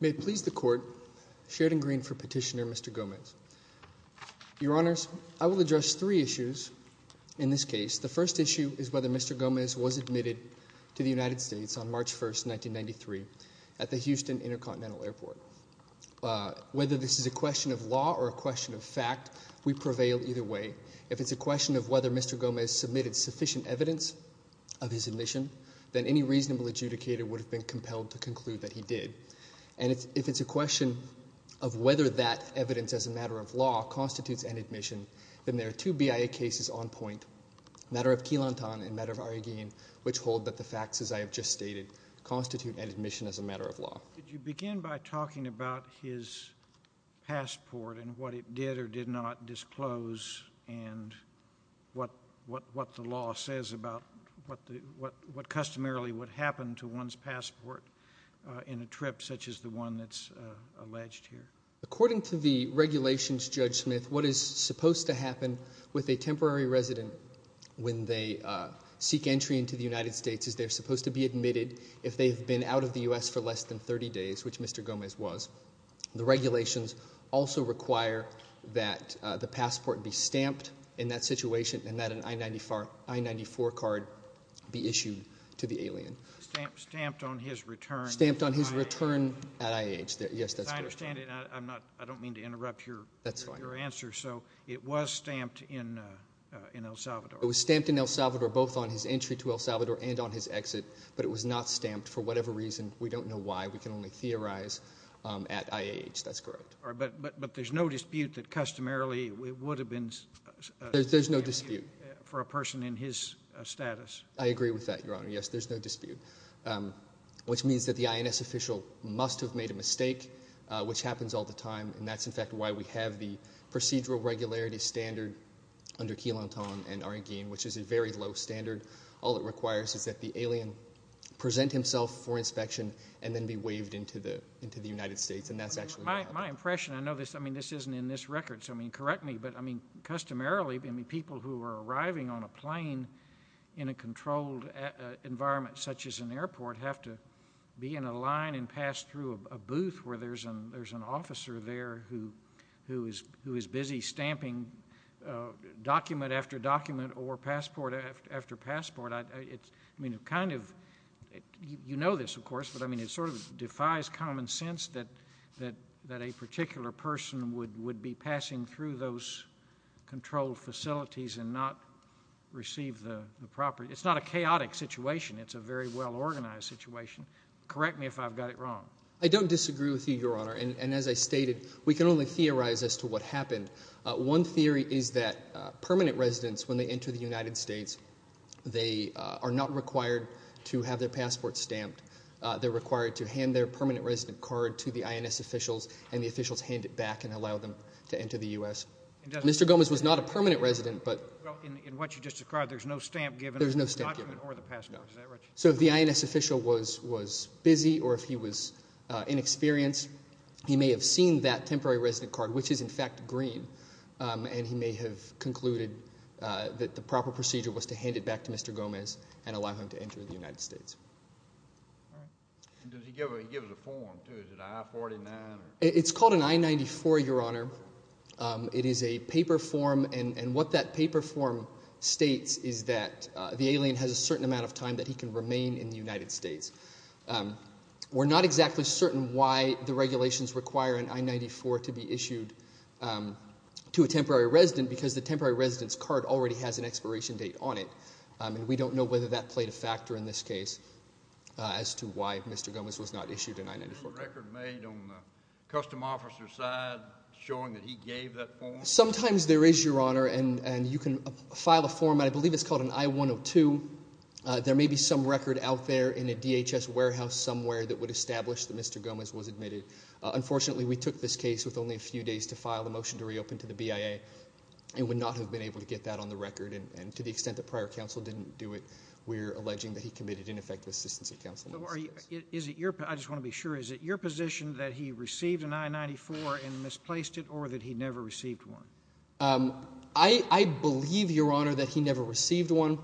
May it please the Court, Sheridan Green for Petitioner, Mr. Gomez. Your Honors, I will address three issues in this case. The first issue is whether Mr. Gomez was admitted to the United States on March 1, 1993 at the Houston Intercontinental Airport. Whether this is a question of law or a question of fact, we prevail either way. If it's a question of whether Mr. Gomez submitted sufficient evidence of his admission, then any reasonable adjudicator would have been compelled to conclude that he did. And if it's a question of whether that evidence as a matter of law constitutes an admission, then there are two BIA cases on point, a matter of Quilanton and a matter of Arreguin, which hold that the facts, as I have just stated, constitute an admission as a matter of law. Did you begin by talking about his passport and what it did or did not disclose and what the law says about what customarily would happen to one's passport in a trip such as the one that's alleged here? According to the regulations, Judge Smith, what is supposed to happen with a temporary resident when they seek entry into the United States is they're supposed to be admitted if they've been out of the U.S. for less than 30 days, which Mr. Gomez was. The regulations also require that the passport be stamped in that situation and that an I-94 card be issued to the alien. Stamped on his return? Stamped on his return at IH. Yes, that's correct. I understand. I'm not, I don't mean to interrupt your answer. So it was stamped in El Salvador. It was stamped in El Salvador, both on his entry to El Salvador and on his exit, but it was not stamped for whatever reason. We don't know why. We can only theorize at IH, that's correct. But there's no dispute that customarily it would have been stamped for a person in his status. There's no dispute. I agree with that, Your Honor. Yes, there's no dispute, which means that the INS official must have made a mistake, which happens all the time, and that's in fact why we have the procedural regularity standard under Quilanton and Areguin, which is a very low standard. All it requires is that the alien present himself for inspection and then be waived into the United States, and that's actually what happened. My impression, I know this isn't in this record, so correct me, but customarily people who are arriving on a plane in a controlled environment, such as an airport, have to be in a line and pass through a booth where there's an officer there who is busy stamping document after passport. You know this, of course, but it sort of defies common sense that a particular person would be passing through those controlled facilities and not receive the property. It's not a chaotic situation. It's a very well-organized situation. Correct me if I've got it wrong. I don't disagree with you, Your Honor, and as I stated, we can only theorize as to what happened. One theory is that permanent residents, when they enter the United States, they are not required to have their passports stamped. They're required to hand their permanent resident card to the INS officials and the officials hand it back and allow them to enter the U.S. Mr. Gomez was not a permanent resident, but— Well, in what you just described, there's no stamp given— There's no stamp given. —on the document or the passport. Is that right? No. So if the INS official was busy or if he was inexperienced, he may have seen that temporary resident card, which is, in fact, green, and he may have concluded that the proper procedure was to hand it back to Mr. Gomez and allow him to enter the United States. All right. And does he give a form, too? Is it I-49? It's called an I-94, Your Honor. It is a paper form, and what that paper form states is that the alien has a certain amount of time that he can remain in the United States. We're not exactly certain why the regulations require an I-94 to be issued to a temporary resident because the temporary resident's card already has an expiration date on it, and we don't know whether that played a factor in this case as to why Mr. Gomez was not issued an I-94. Is there a record made on the custom officer's side showing that he gave that form? Sometimes there is, Your Honor, and you can file a form, and I believe it's called an I-102. There may be some record out there in a DHS warehouse somewhere that would establish that Mr. Gomez was admitted. Unfortunately, we took this case with only a few days to file a motion to reopen to the BIA and would not have been able to get that on the record, and to the extent that prior counsel didn't do it, we're alleging that he committed ineffective assistance of counsel in the United States. I just want to be sure. Is it your position that he received an I-94 and misplaced it, or that he never received one? I believe, Your Honor, that he never received one.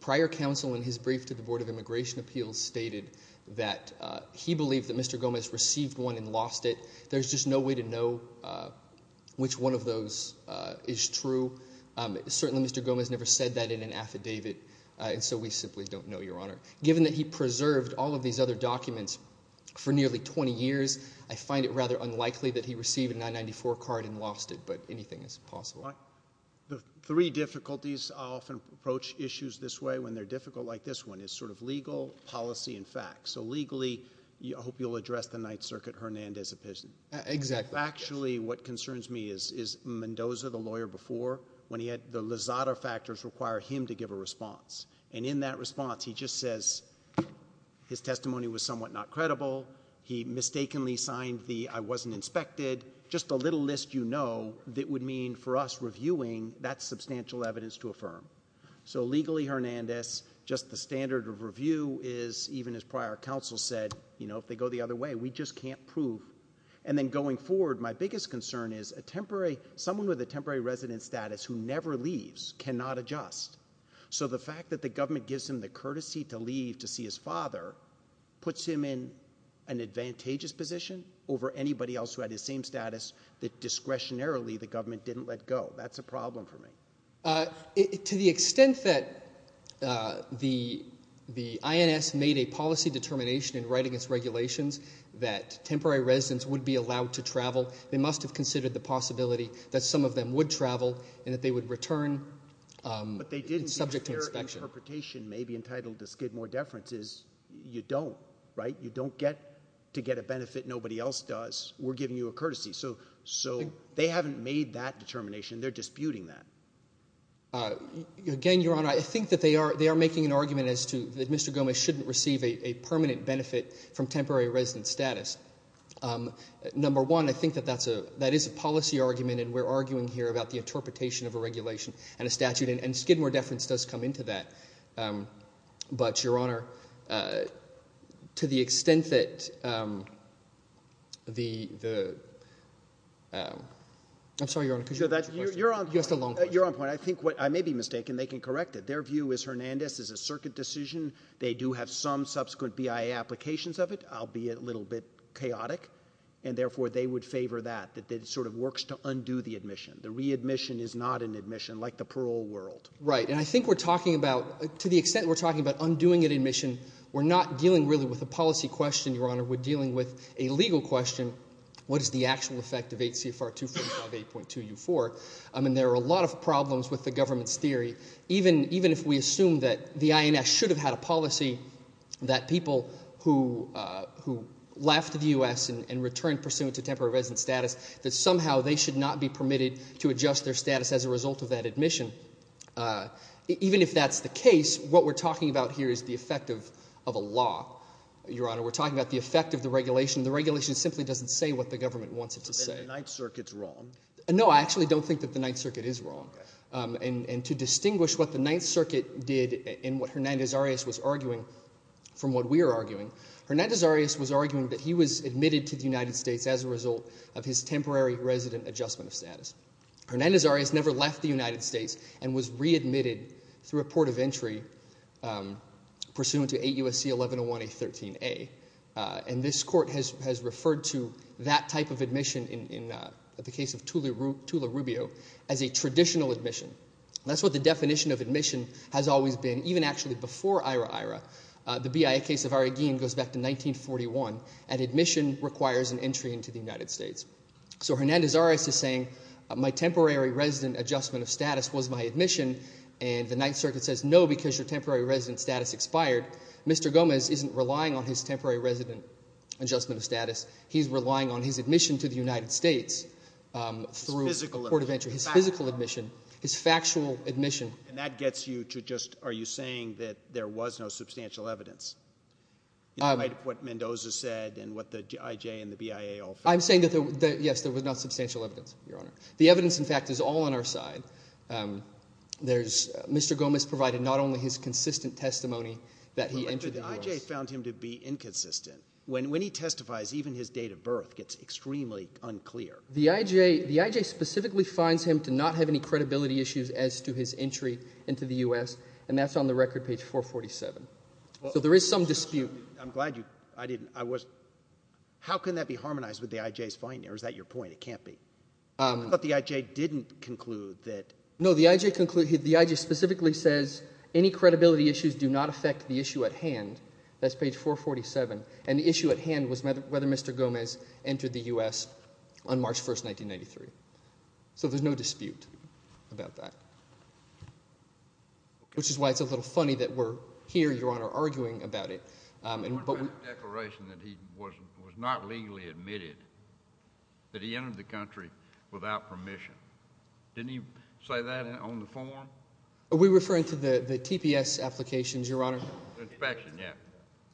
Prior counsel in his brief to the Board of Immigration Appeals stated that he believed that Mr. Gomez received one and lost it. There's just no way to know which one of those is true. Certainly, Mr. Gomez never said that in an affidavit, and so we simply don't know, Your Honor. Given that he preserved all of these other documents for nearly 20 years, I find it rather unlikely that he received an I-94 card and lost it, but anything is possible. The three difficulties I often approach issues this way, when they're difficult like this one, is sort of legal, policy, and facts. So legally, I hope you'll address the Ninth Circuit Hernandez appeasement. Exactly. Actually, what concerns me is, is Mendoza, the lawyer before, when he had the Lizada factors require him to give a response, and in that response, he just says his testimony was somewhat not credible. He mistakenly signed the, I wasn't inspected, just a little list you know that would mean, for us reviewing, that's substantial evidence to affirm. So legally, Hernandez, just the standard of review is, even as prior counsel said, you know, if they go the other way, we just can't prove. And then going forward, my biggest concern is a temporary, someone with a temporary resident status who never leaves, cannot adjust. So the fact that the government gives him the courtesy to leave to see his father, puts him in an advantageous position over anybody else who had the same status that discretionarily the government didn't let go. That's a problem for me. To the extent that the, the INS made a policy determination in writing its regulations that temporary residents would be allowed to travel, they must have considered the possibility that some of them would travel, and that they would return. But they didn't. It's subject to inspection. Their interpretation may be entitled to skid more deference, is you don't, right? You don't get to get a benefit nobody else does. We're giving you a courtesy. So they haven't made that determination, they're disputing that. Again, Your Honor, I think that they are, they are making an argument as to that Mr. Gomez shouldn't receive a permanent benefit from temporary resident status. Number one, I think that that's a, that is a policy argument, and we're arguing here about the interpretation of a regulation and a statute, and skid more deference does come into that. But Your Honor, to the extent that the, the, I'm sorry, Your Honor, could you answer the question? You asked a long question. You're on point. You're on point. I think what, I may be mistaken, they can correct it. Their view is Hernandez is a circuit decision. They do have some subsequent BIA applications of it, albeit a little bit chaotic, and therefore they would favor that, that it sort of works to undo the admission. The readmission is not an admission, like the parole world. Right, and I think we're talking about, to the extent we're talking about undoing an admission, we're not dealing really with a policy question, Your Honor, we're dealing with a legal question, what is the actual effect of 8 CFR 245 8.2 U4? I mean, there are a lot of problems with the government's theory, even, even if we assume that the INS should have had a policy that people who, who left the U.S. and returned pursuant to temporary resident status, that somehow they should not be permitted to adjust their status as a result of that admission. Even if that's the case, what we're talking about here is the effect of, of a law, Your Honor. We're talking about the effect of the regulation. The regulation simply doesn't say what the government wants it to say. But then the Ninth Circuit's wrong. No, I actually don't think that the Ninth Circuit is wrong. And to distinguish what the Ninth Circuit did and what Hernandez Arias was arguing from what we are arguing, Hernandez Arias was arguing that he was admitted to the United States as a result of his temporary resident adjustment of status. Hernandez Arias never left the United States and was readmitted through a port of entry pursuant to 8 U.S.C. 1101 A13A. And this Court has, has referred to that type of admission in, in the case of Tula Rubio as a traditional admission. That's what the definition of admission has always been, even actually before IHRA-IHRA. The BIA case of Arreguin goes back to 1941, and admission requires an entry into the United States. So Hernandez Arias is saying, my temporary resident adjustment of status was my admission, and the Ninth Circuit says, no, because your temporary resident status expired. Mr. Gomez isn't relying on his temporary resident adjustment of status. He's relying on his admission to the United States through a port of entry. His physical admission. His factual admission. And that gets you to just, are you saying that there was no substantial evidence? In light of what Mendoza said, and what the IJ and the BIA all feel? I'm saying that there, yes, there was not substantial evidence, Your Honor. The evidence, in fact, is all on our side. There's, Mr. Gomez provided not only his consistent testimony that he entered the U.S. But the IJ found him to be inconsistent. When, when he testifies, even his date of birth gets extremely unclear. The IJ, the IJ specifically finds him to not have any credibility issues as to his entry into the U.S., and that's on the record, page 447. So there is some dispute. I'm glad you, I didn't, I wasn't, how can that be harmonized with the IJ's finding? Or is that your point? It can't be. Um. But the IJ didn't conclude that. No, the IJ concluded, the IJ specifically says, any credibility issues do not affect the issue at hand. That's page 447. And the issue at hand was whether, whether Mr. Gomez entered the U.S. on March 1st, 1993. So there's no dispute about that. Which is why it's a little funny that we're here, Your Honor, arguing about it. Um. But what about the declaration that he was, was not legally admitted, that he entered the country without permission? Didn't he say that on the form? We're referring to the, the TPS applications, Your Honor. Inspection, yeah.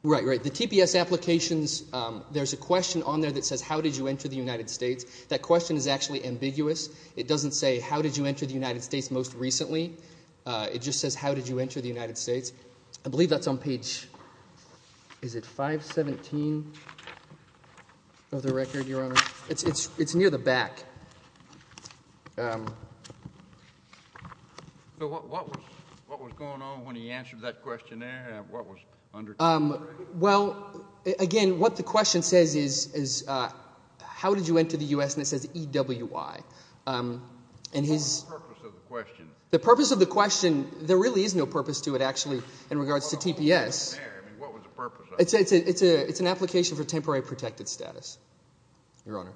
Right, right. The TPS applications, there's a question on there that says, how did you enter the United States? That question is actually ambiguous. It doesn't say, how did you enter the United States most recently? It just says, how did you enter the United States? I believe that's on page, is it 517 of the record, Your Honor? It's near the back. Um. So what, what was, what was going on when he answered that questionnaire, and what was under it? Um. Well, again, what the question says is, is, uh, how did you enter the U.S.? And it says EWI. And his. What was the purpose of the question? The purpose of the question, there really is no purpose to it, actually, in regards to TPS. I mean, what was the purpose of it? It's a, it's a, it's an application for temporary protected status, Your Honor.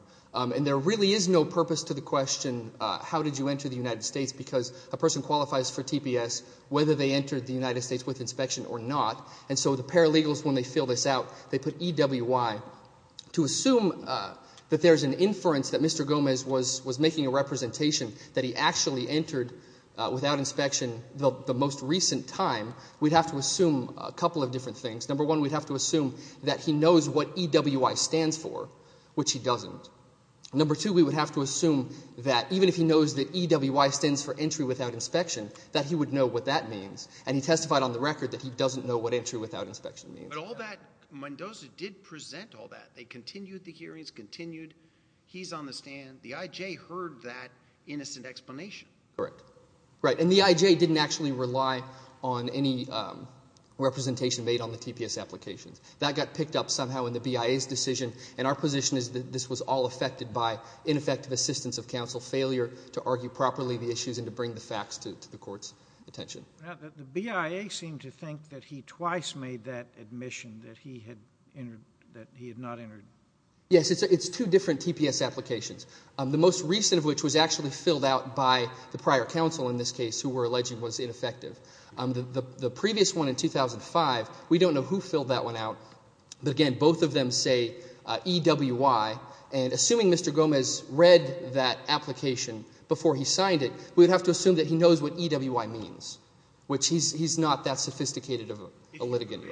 And there really is no purpose to the question, uh, how did you enter the United States? Because a person qualifies for TPS whether they entered the United States with inspection or not. And so the paralegals, when they fill this out, they put EWI. To assume, uh, that there's an inference that Mr. Gomez was, was making a representation that he actually entered, uh, without inspection the, the most recent time, we'd have to assume a couple of different things. Number one, we'd have to assume that he knows what EWI stands for, which he doesn't. Number two, we would have to assume that even if he knows that EWI stands for entry without inspection, that he would know what that means. And he testified on the record that he doesn't know what entry without inspection means. But all that, Mendoza did present all that. They continued the hearings, continued, he's on the stand. The IJ heard that innocent explanation. Correct. Right. And the IJ didn't actually rely on any, um, representation made on the TPS applications. That got picked up somehow in the BIA's decision. And our position is that this was all affected by ineffective assistance of counsel, failure to argue properly the issues, and to bring the facts to, to the court's attention. The BIA seemed to think that he twice made that admission, that he had entered, that he had not entered. Yes. It's, it's two different TPS applications. The most recent of which was actually filled out by the prior counsel in this case who were alleging was ineffective. The previous one in 2005, we don't know who filled that one out, but again, both of them say EWI. And assuming Mr. Gomez read that application before he signed it, we would have to assume that he knows what EWI means, which he's, he's not that sophisticated of a litigant.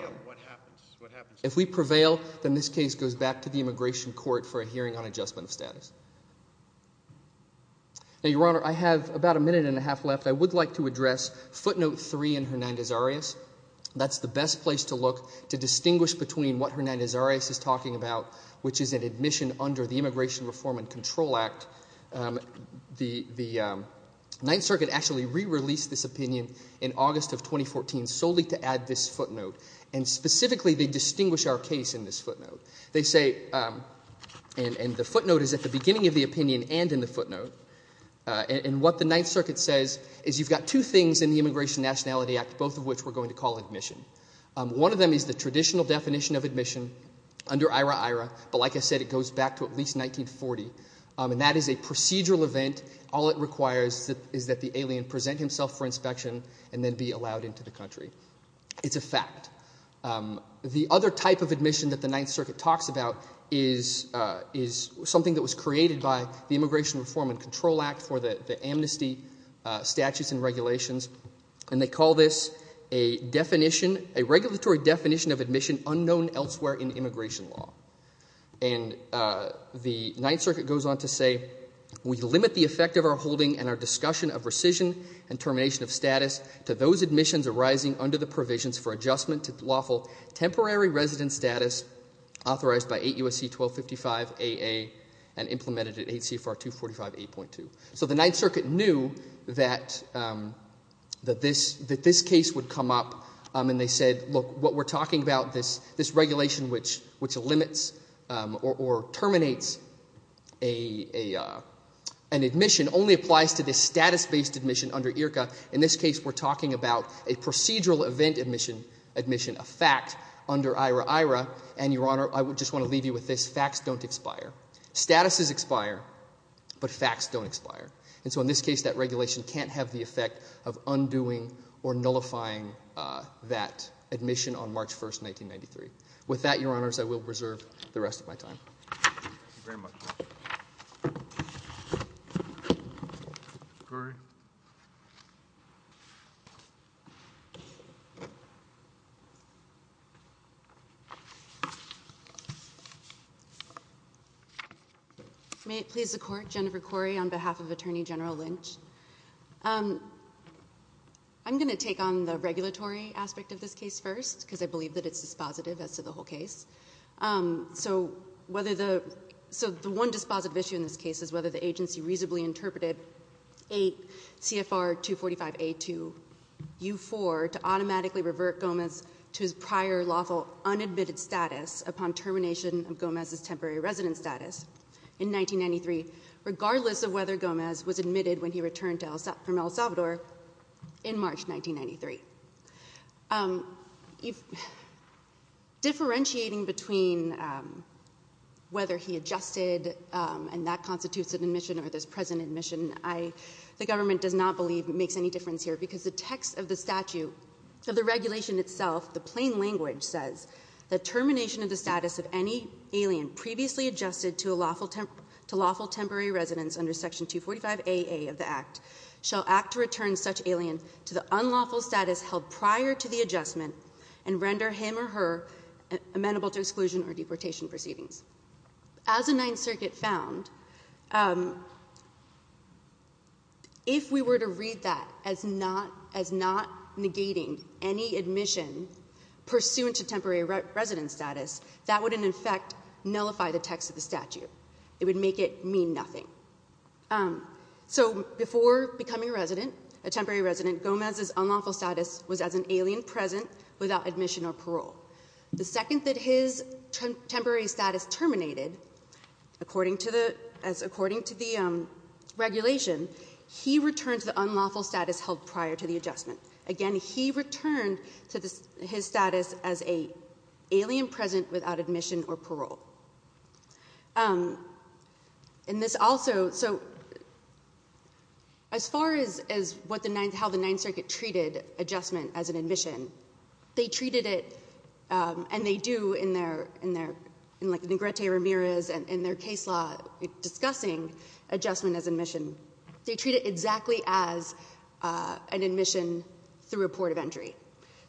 If we prevail, then this case goes back to the immigration court for a hearing on adjustment of status. Now, Your Honor, I have about a minute and a half left. I would like to address footnote three in Hernandez-Arias. That's the best place to look to distinguish between what Hernandez-Arias is talking about, which is an admission under the Immigration Reform and Control Act. The, the Ninth Circuit actually re-released this opinion in August of 2014 solely to add this footnote. And specifically, they distinguish our case in this footnote. They say, and, and the footnote is at the beginning of the opinion and in the footnote. And what the Ninth Circuit says is you've got two things in the Immigration and Nationality Act, both of which we're going to call admission. One of them is the traditional definition of admission under IRA-IRA, but like I said, it goes back to at least 1940. And that is a procedural event. All it requires is that the alien present himself for inspection and then be allowed into the country. It's a fact. The other type of admission that the Ninth Circuit talks about is, is something that was created by the Immigration Reform and Control Act for the, the amnesty statutes and regulations. And they call this a definition, a regulatory definition of admission unknown elsewhere in immigration law. And the Ninth Circuit goes on to say, we limit the effect of our holding and our discussion of rescission and termination of status to those admissions arising under the provisions for adjustment to lawful temporary resident status authorized by 8 U.S.C. 1255 AA and implemented at 8 CFR 245 A.2. So the Ninth Circuit knew that, that this, that this case would come up and they said, look, what we're talking about, this, this regulation which, which limits or, or terminates a, a, an admission only applies to this status-based admission under IRCA. In this case, we're talking about a procedural event admission, admission of fact under IRIRA. And Your Honor, I would just want to leave you with this. Facts don't expire. Statuses expire, but facts don't expire. And so in this case, that regulation can't have the effect of undoing or nullifying that admission on March 1st, 1993. With that, Your Honors, I will preserve the rest of my time. Thank you very much. Cori? May it please the Court, Jennifer Cori on behalf of Attorney General Lynch. I'm going to take on the regulatory aspect of this case first, because I believe that it's dispositive as to the whole case. So whether the, so the one dispositive issue in this case is whether the agency reasonably interpreted 8 CFR 245 A2 U4 to automatically revert Gomez to his prior lawful unadmitted status upon termination of Gomez's temporary residence status in 1993, regardless of whether Gomez was admitted when he returned from El Salvador in March 1993. Differentiating between whether he adjusted and when that constitutes an admission or this present admission, the government does not believe it makes any difference here. Because the text of the statute, of the regulation itself, the plain language says, the termination of the status of any alien previously adjusted to lawful temporary residence under section 245 AA of the act shall act to return such alien to the unlawful status held prior to the adjustment and render him or her amenable to exclusion or deportation proceedings. As the Ninth Circuit found, if we were to read that as not, as not negating any admission pursuant to temporary residence status, that would in effect nullify the text of the statute, it would make it mean nothing. So before becoming a resident, a temporary resident, Gomez's unlawful status was as an alien present without admission or parole. The second that his temporary status terminated, according to the regulation, he returned to the unlawful status held prior to the adjustment. Again, he returned to his status as a alien present without admission or parole. And this also, so as far as how the Ninth Circuit treated adjustment as an admission, they treated it, and they do in their, like Negrete Ramirez in their case law discussing adjustment as admission. They treat it exactly as an admission through a port of entry.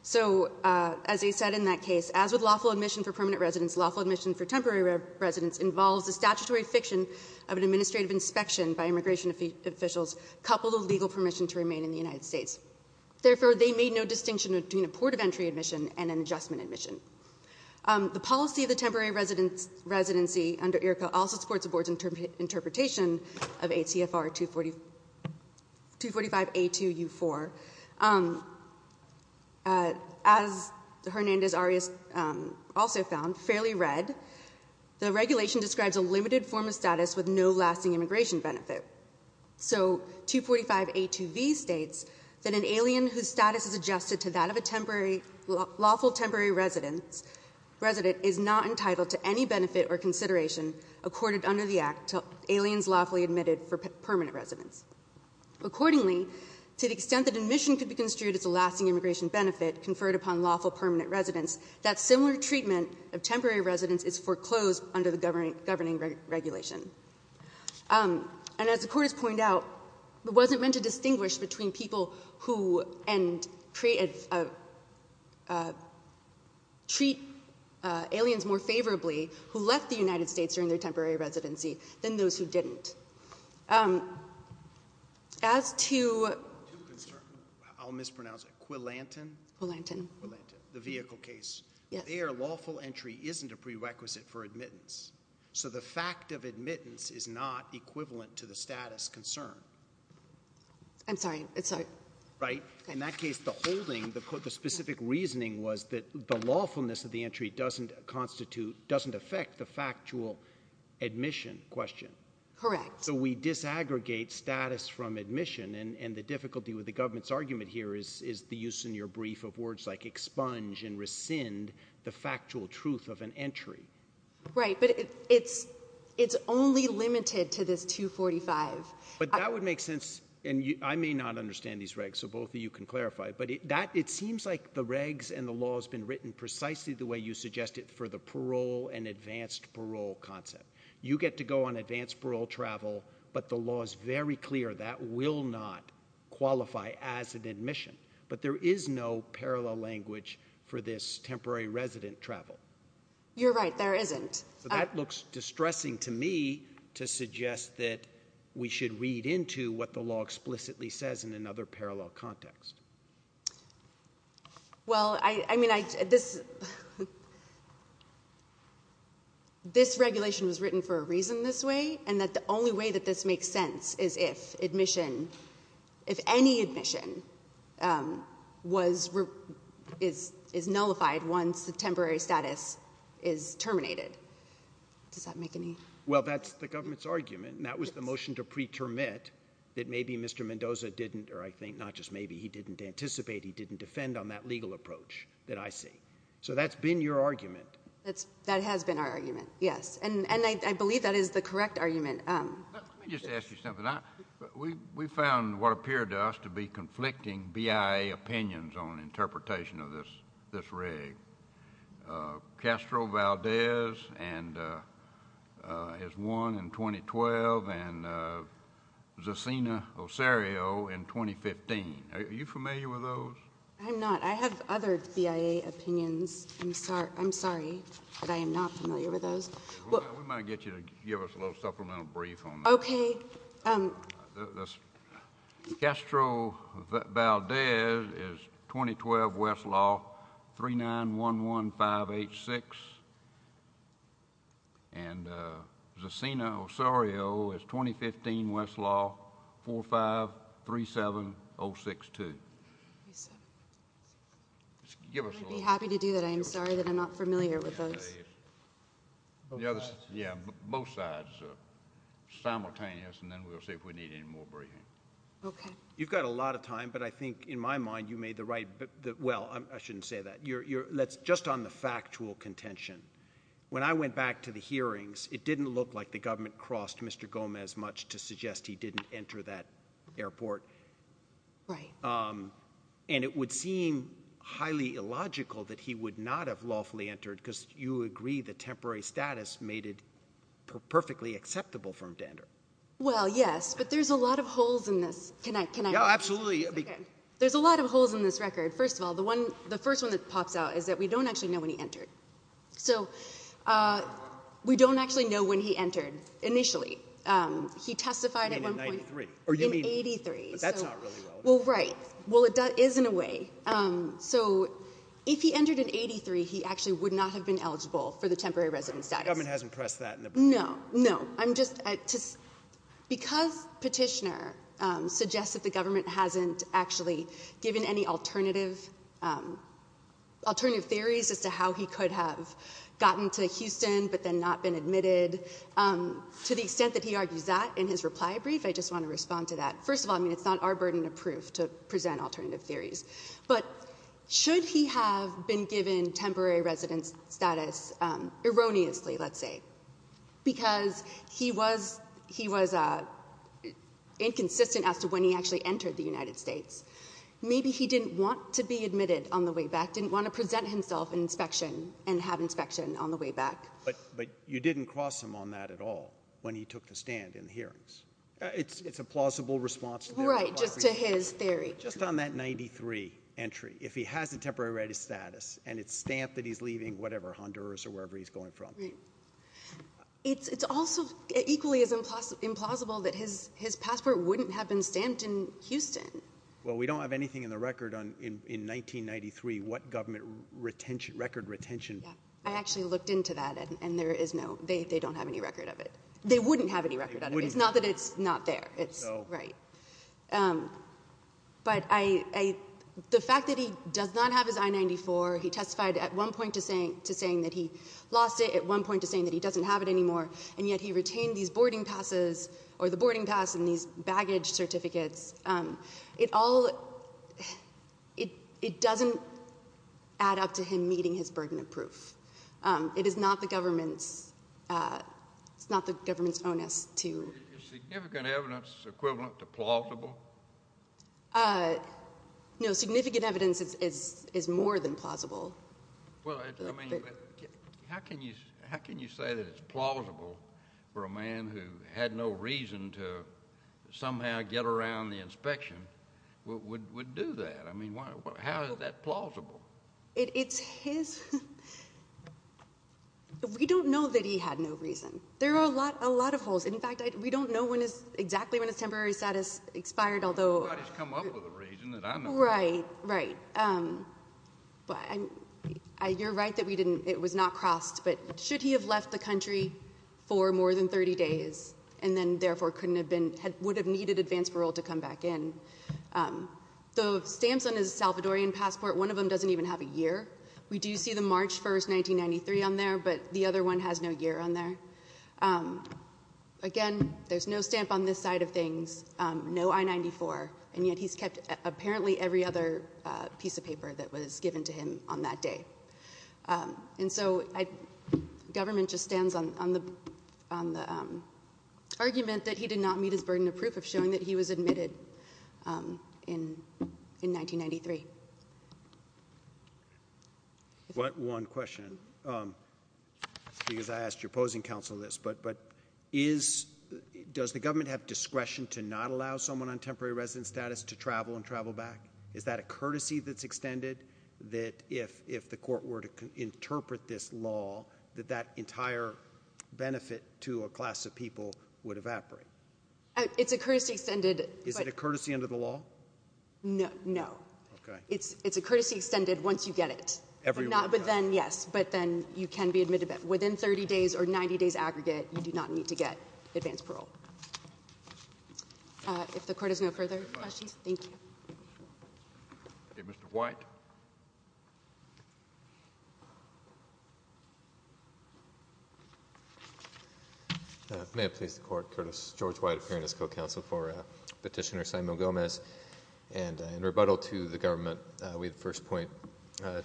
So as they said in that case, as with lawful admission for permanent residence, lawful admission for temporary residence involves the statutory fiction of an administrative inspection by immigration officials, coupled with legal permission to remain in the United States. Therefore, they made no distinction between a port of entry admission and an adjustment admission. The policy of the temporary residency under IRCA also supports the board's interpretation of ACFR 245A2U4. As Hernandez-Arias also found, fairly read. The regulation describes a limited form of status with no lasting immigration benefit. So 245A2B states that an alien whose status is adjusted to that of a lawful temporary resident is not entitled to any benefit or consideration accorded under the act to aliens lawfully admitted for permanent residence. Accordingly, to the extent that admission could be construed as a lasting immigration benefit conferred upon lawful permanent residents, that similar treatment of temporary residence is foreclosed under the governing regulation. And as the court has pointed out, it wasn't meant to distinguish between people who, and treat aliens more favorably who left the United States during their temporary residency than those who didn't. As to- I'll mispronounce it, Quilantan? Quilantan. Quilantan, the vehicle case. Their lawful entry isn't a prerequisite for admittance. So the fact of admittance is not equivalent to the status concern. I'm sorry, I'm sorry. Right? In that case, the holding, the specific reasoning was that the lawfulness of the entry doesn't constitute, doesn't affect the factual admission question. Correct. So we disaggregate status from admission, and the difficulty with the government's argument here is the use in your brief of words like expunge and rescind the factual truth of an entry. Right, but it's only limited to this 245. But that would make sense, and I may not understand these regs, so both of you can clarify. But it seems like the regs and the law's been written precisely the way you suggested for the parole and advanced parole concept. You get to go on advanced parole travel, but the law's very clear that will not qualify as an admission. But there is no parallel language for this temporary resident travel. You're right, there isn't. So that looks distressing to me to suggest that we should read into what the law explicitly says in another parallel context. Well, I mean, this regulation was written for a reason this way, and that the only way that this makes sense is if admission, if any admission is nullified once the temporary status is terminated. Does that make any? Well, that's the government's argument, and that was the motion to pre-termit that maybe Mr. Mendoza didn't, or I think not just maybe, he didn't anticipate, he didn't defend on that legal approach that I see. So that's been your argument. That has been our argument, yes. And I believe that is the correct argument. Let me just ask you something. We found what appeared to us to be conflicting BIA opinions on interpretation of this reg. Castro Valdez is one in 2012, and Zacina Osario in 2015, are you familiar with those? I'm not, I have other BIA opinions, I'm sorry, but I am not familiar with those. We might get you to give us a little supplemental brief on that. Okay. Castro Valdez is 2012 Westlaw 3911586. And Zacina Osario is 2015 Westlaw 4537062. I'd be happy to do that, I'm sorry that I'm not familiar with those. Yeah, both sides are simultaneous, and then we'll see if we need any more briefing. Okay. You've got a lot of time, but I think, in my mind, you made the right, well, I shouldn't say that. Just on the factual contention, when I went back to the hearings, it didn't look like the government crossed Mr. Gomez much to suggest he didn't enter that airport. Right. And it would seem highly illogical that he would not have lawfully entered, because you agree the temporary status made it perfectly acceptable for him to enter. Well, yes, but there's a lot of holes in this. Can I- Yeah, absolutely. There's a lot of holes in this record. First of all, the first one that pops out is that we don't actually know when he entered. So, we don't actually know when he entered initially. He testified at one point- You mean in 93? In 83. That's not really well. Well, right. Well, it is in a way. So, if he entered in 83, he actually would not have been eligible for the temporary resident status. The government hasn't pressed that in the- No, no. I'm just- Because Petitioner suggests that the government hasn't actually given any alternative theories as to how he could have gotten to Houston, but then not been admitted, to the extent that he argues that in his reply brief, I just want to respond to that. First of all, I mean, it's not our burden of proof to present alternative theories. But should he have been given temporary resident status erroneously, let's say, because he was inconsistent as to when he actually entered the United States. Maybe he didn't want to be admitted on the way back, didn't want to present himself in inspection and have inspection on the way back. But you didn't cross him on that at all when he took the stand in the hearings. It's a plausible response to- Right, just to his theory. Just on that 93 entry, if he has a temporary resident status and it's stamped that he's leaving whatever, Honduras or wherever he's going from. Right. It's also equally as implausible that his passport wouldn't have been stamped in Houston. Well, we don't have anything in the record on, in 1993, what government record retention- Yeah, I actually looked into that and there is no, they don't have any record of it. They wouldn't have any record of it. It's- Right. But I, the fact that he does not have his I-94, he testified at one point to saying that he lost it, at one point to saying that he doesn't have it anymore. And yet he retained these boarding passes, or the boarding pass and these baggage certificates. It all, it doesn't add up to him meeting his burden of proof. It is not the government's, it's not the government's onus to- Is significant evidence equivalent to plausible? No, significant evidence is more than plausible. Well, I mean, how can you say that it's plausible for a man who had no reason to somehow get around the inspection would do that? I mean, how is that plausible? It's his, we don't know that he had no reason. There are a lot of holes. In fact, we don't know when it's, exactly when his temporary status expired, although- Nobody's come up with a reason that I'm- Right, right. But I'm, you're right that we didn't, it was not crossed. But should he have left the country for more than 30 days and then therefore couldn't have been, would have needed advance parole to come back in? The stamps on his Salvadorian passport, one of them doesn't even have a year. We do see the March 1st, 1993 on there, but the other one has no year on there. Again, there's no stamp on this side of things, no I-94, and yet he's kept apparently every other piece of paper that was given to him on that day. And so, government just stands on the argument that he did not meet his burden of proof of showing that he was admitted in 1993. One question, because I asked your opposing counsel this, but is, does the government have discretion to not allow someone on temporary residence status to travel and travel back? Is that a courtesy that's extended that if the court were to interpret this law, that that entire benefit to a class of people would evaporate? It's a courtesy extended- Is it a courtesy under the law? No, no. Okay. It's a courtesy extended once you get it. Every one of them. But then, yes, but then you can be admitted. Within 30 days or 90 days aggregate, you do not need to get advance parole. If the court has no further questions, thank you. Okay, Mr. White. May it please the court, Curtis George White, appearing as co-counsel for Petitioner Simon Gomez. And in rebuttal to the government, we at first point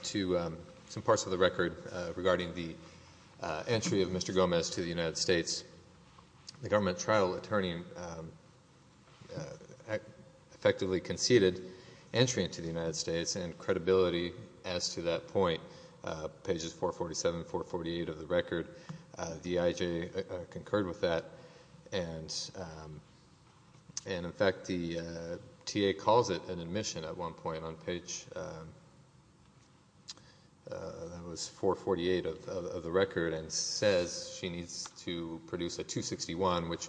to some parts of the record regarding the entry of Mr. Gomez to the United States. The government trial attorney effectively conceded entry into the United States and credibility as to that point. Pages 447, 448 of the record. The IJ concurred with that. And in fact, the TA calls it an admission at one point on page, that was 448 of the record, and says she needs to produce a 261, which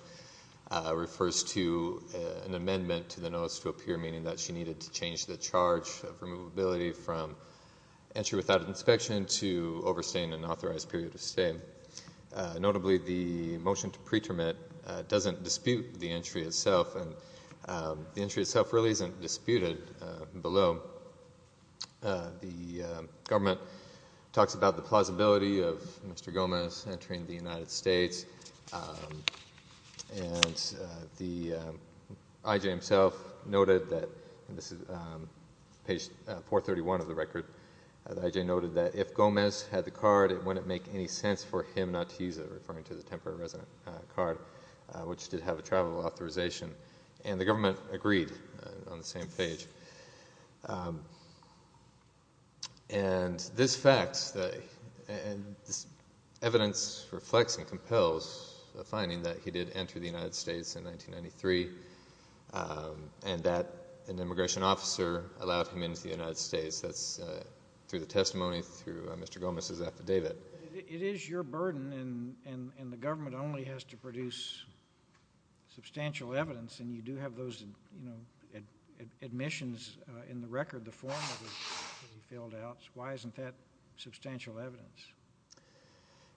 refers to an amendment to the notice to appear, meaning that she needed to change the charge of removability from entry without inspection to overstaying an authorized period of stay. Notably, the motion to pre-termit doesn't dispute the entry itself. And the entry itself really isn't disputed below. The government talks about the plausibility of Mr. Gomez entering the United States. And the IJ himself noted that, and this is page 431 of the record, the IJ noted that if Gomez had the card, it wouldn't make any sense for him not to use it, referring to the temporary resident card, which did have a travel authorization. And the government agreed on the same page. And this fact, and this evidence reflects and compels the finding that he did enter the United States in 1993, and that an immigration officer allowed him into the United States. That's through the testimony, through Mr. Gomez's affidavit. It is your burden, and the government only has to produce substantial evidence, and you do have those admissions in the record, the form that was filled out. Why isn't that substantial evidence?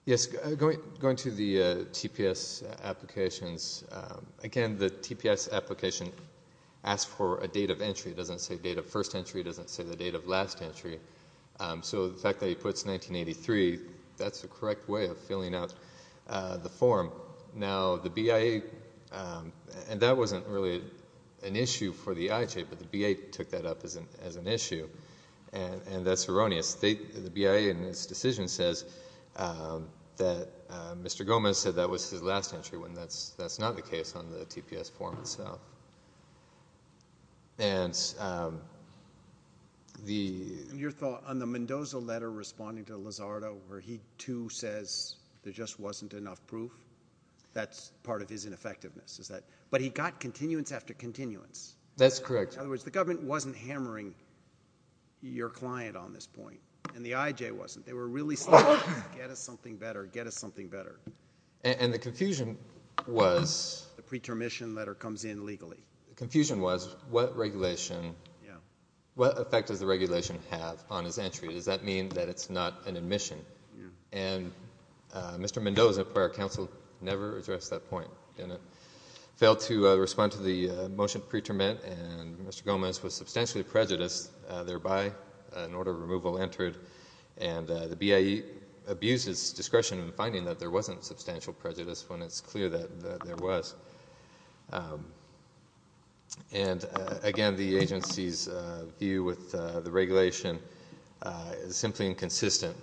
Yes, going to the TPS applications, again, the TPS application asks for a date of entry. It doesn't say date of first entry. It doesn't say the date of last entry. So the fact that he puts 1983, that's the correct way of filling out the form. Now, the BIA, and that wasn't really an issue for the IJ, but the BIA took that up as an issue, and that's erroneous. The BIA, in its decision, says that Mr. Gomez said that was his last entry, when that's not the case on the TPS form itself. And the... And your thought on the Mendoza letter responding to Lizardo, where he too says there just wasn't enough proof? That's part of his ineffectiveness, is that... But he got continuance after continuance. That's correct. In other words, the government wasn't hammering your client on this point, and the IJ wasn't. They were really saying, get us something better, get us something better. And the confusion was... The pre-term mission letter comes in legally. The confusion was, what regulation... What effect does the regulation have on his entry? Does that mean that it's not an admission? And Mr. Mendoza, prior counsel, never addressed that point. Didn't. Failed to respond to the motion pre-terminate, and Mr. Gomez was substantially prejudiced. Thereby, an order of removal entered, and the BIA abused its discretion in finding that there wasn't substantial prejudice when it's clear that there was. And again, the agency's view with the regulation is simply inconsistent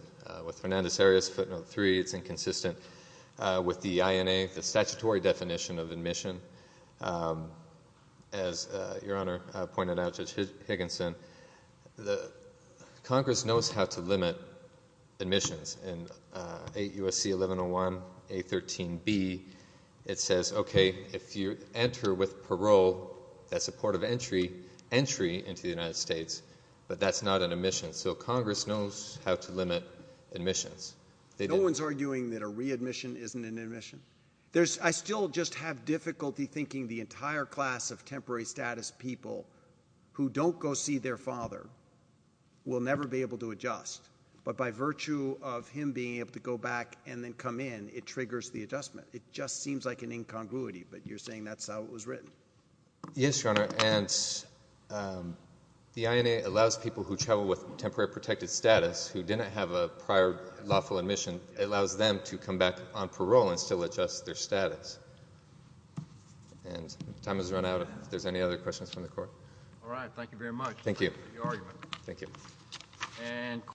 with Fernandez-Harris footnote three. It's inconsistent with the INA, the statutory definition of admission. As Your Honor pointed out, Judge Higginson, Congress knows how to limit admissions. In 8 U.S.C. 1101, A13B, it says, okay, if you enter with parole, that's a port of entry, entry into the United States, but that's not an admission. So Congress knows how to limit admissions. No one's arguing that a readmission isn't an admission. I still just have difficulty thinking the entire class of temporary status people who don't go see their father will never be able to adjust, but by virtue of him being able to go back and then come in, it triggers the adjustment. It just seems like an incongruity, but you're saying that's how it was written? Yes, Your Honor. And the INA allows people who travel with temporary protected status who didn't have a prior lawful admission, it allows them to come back on parole and still adjust their status. And time has run out if there's any other questions from the court. All right. Thank you very much. Thank you. Thank you. And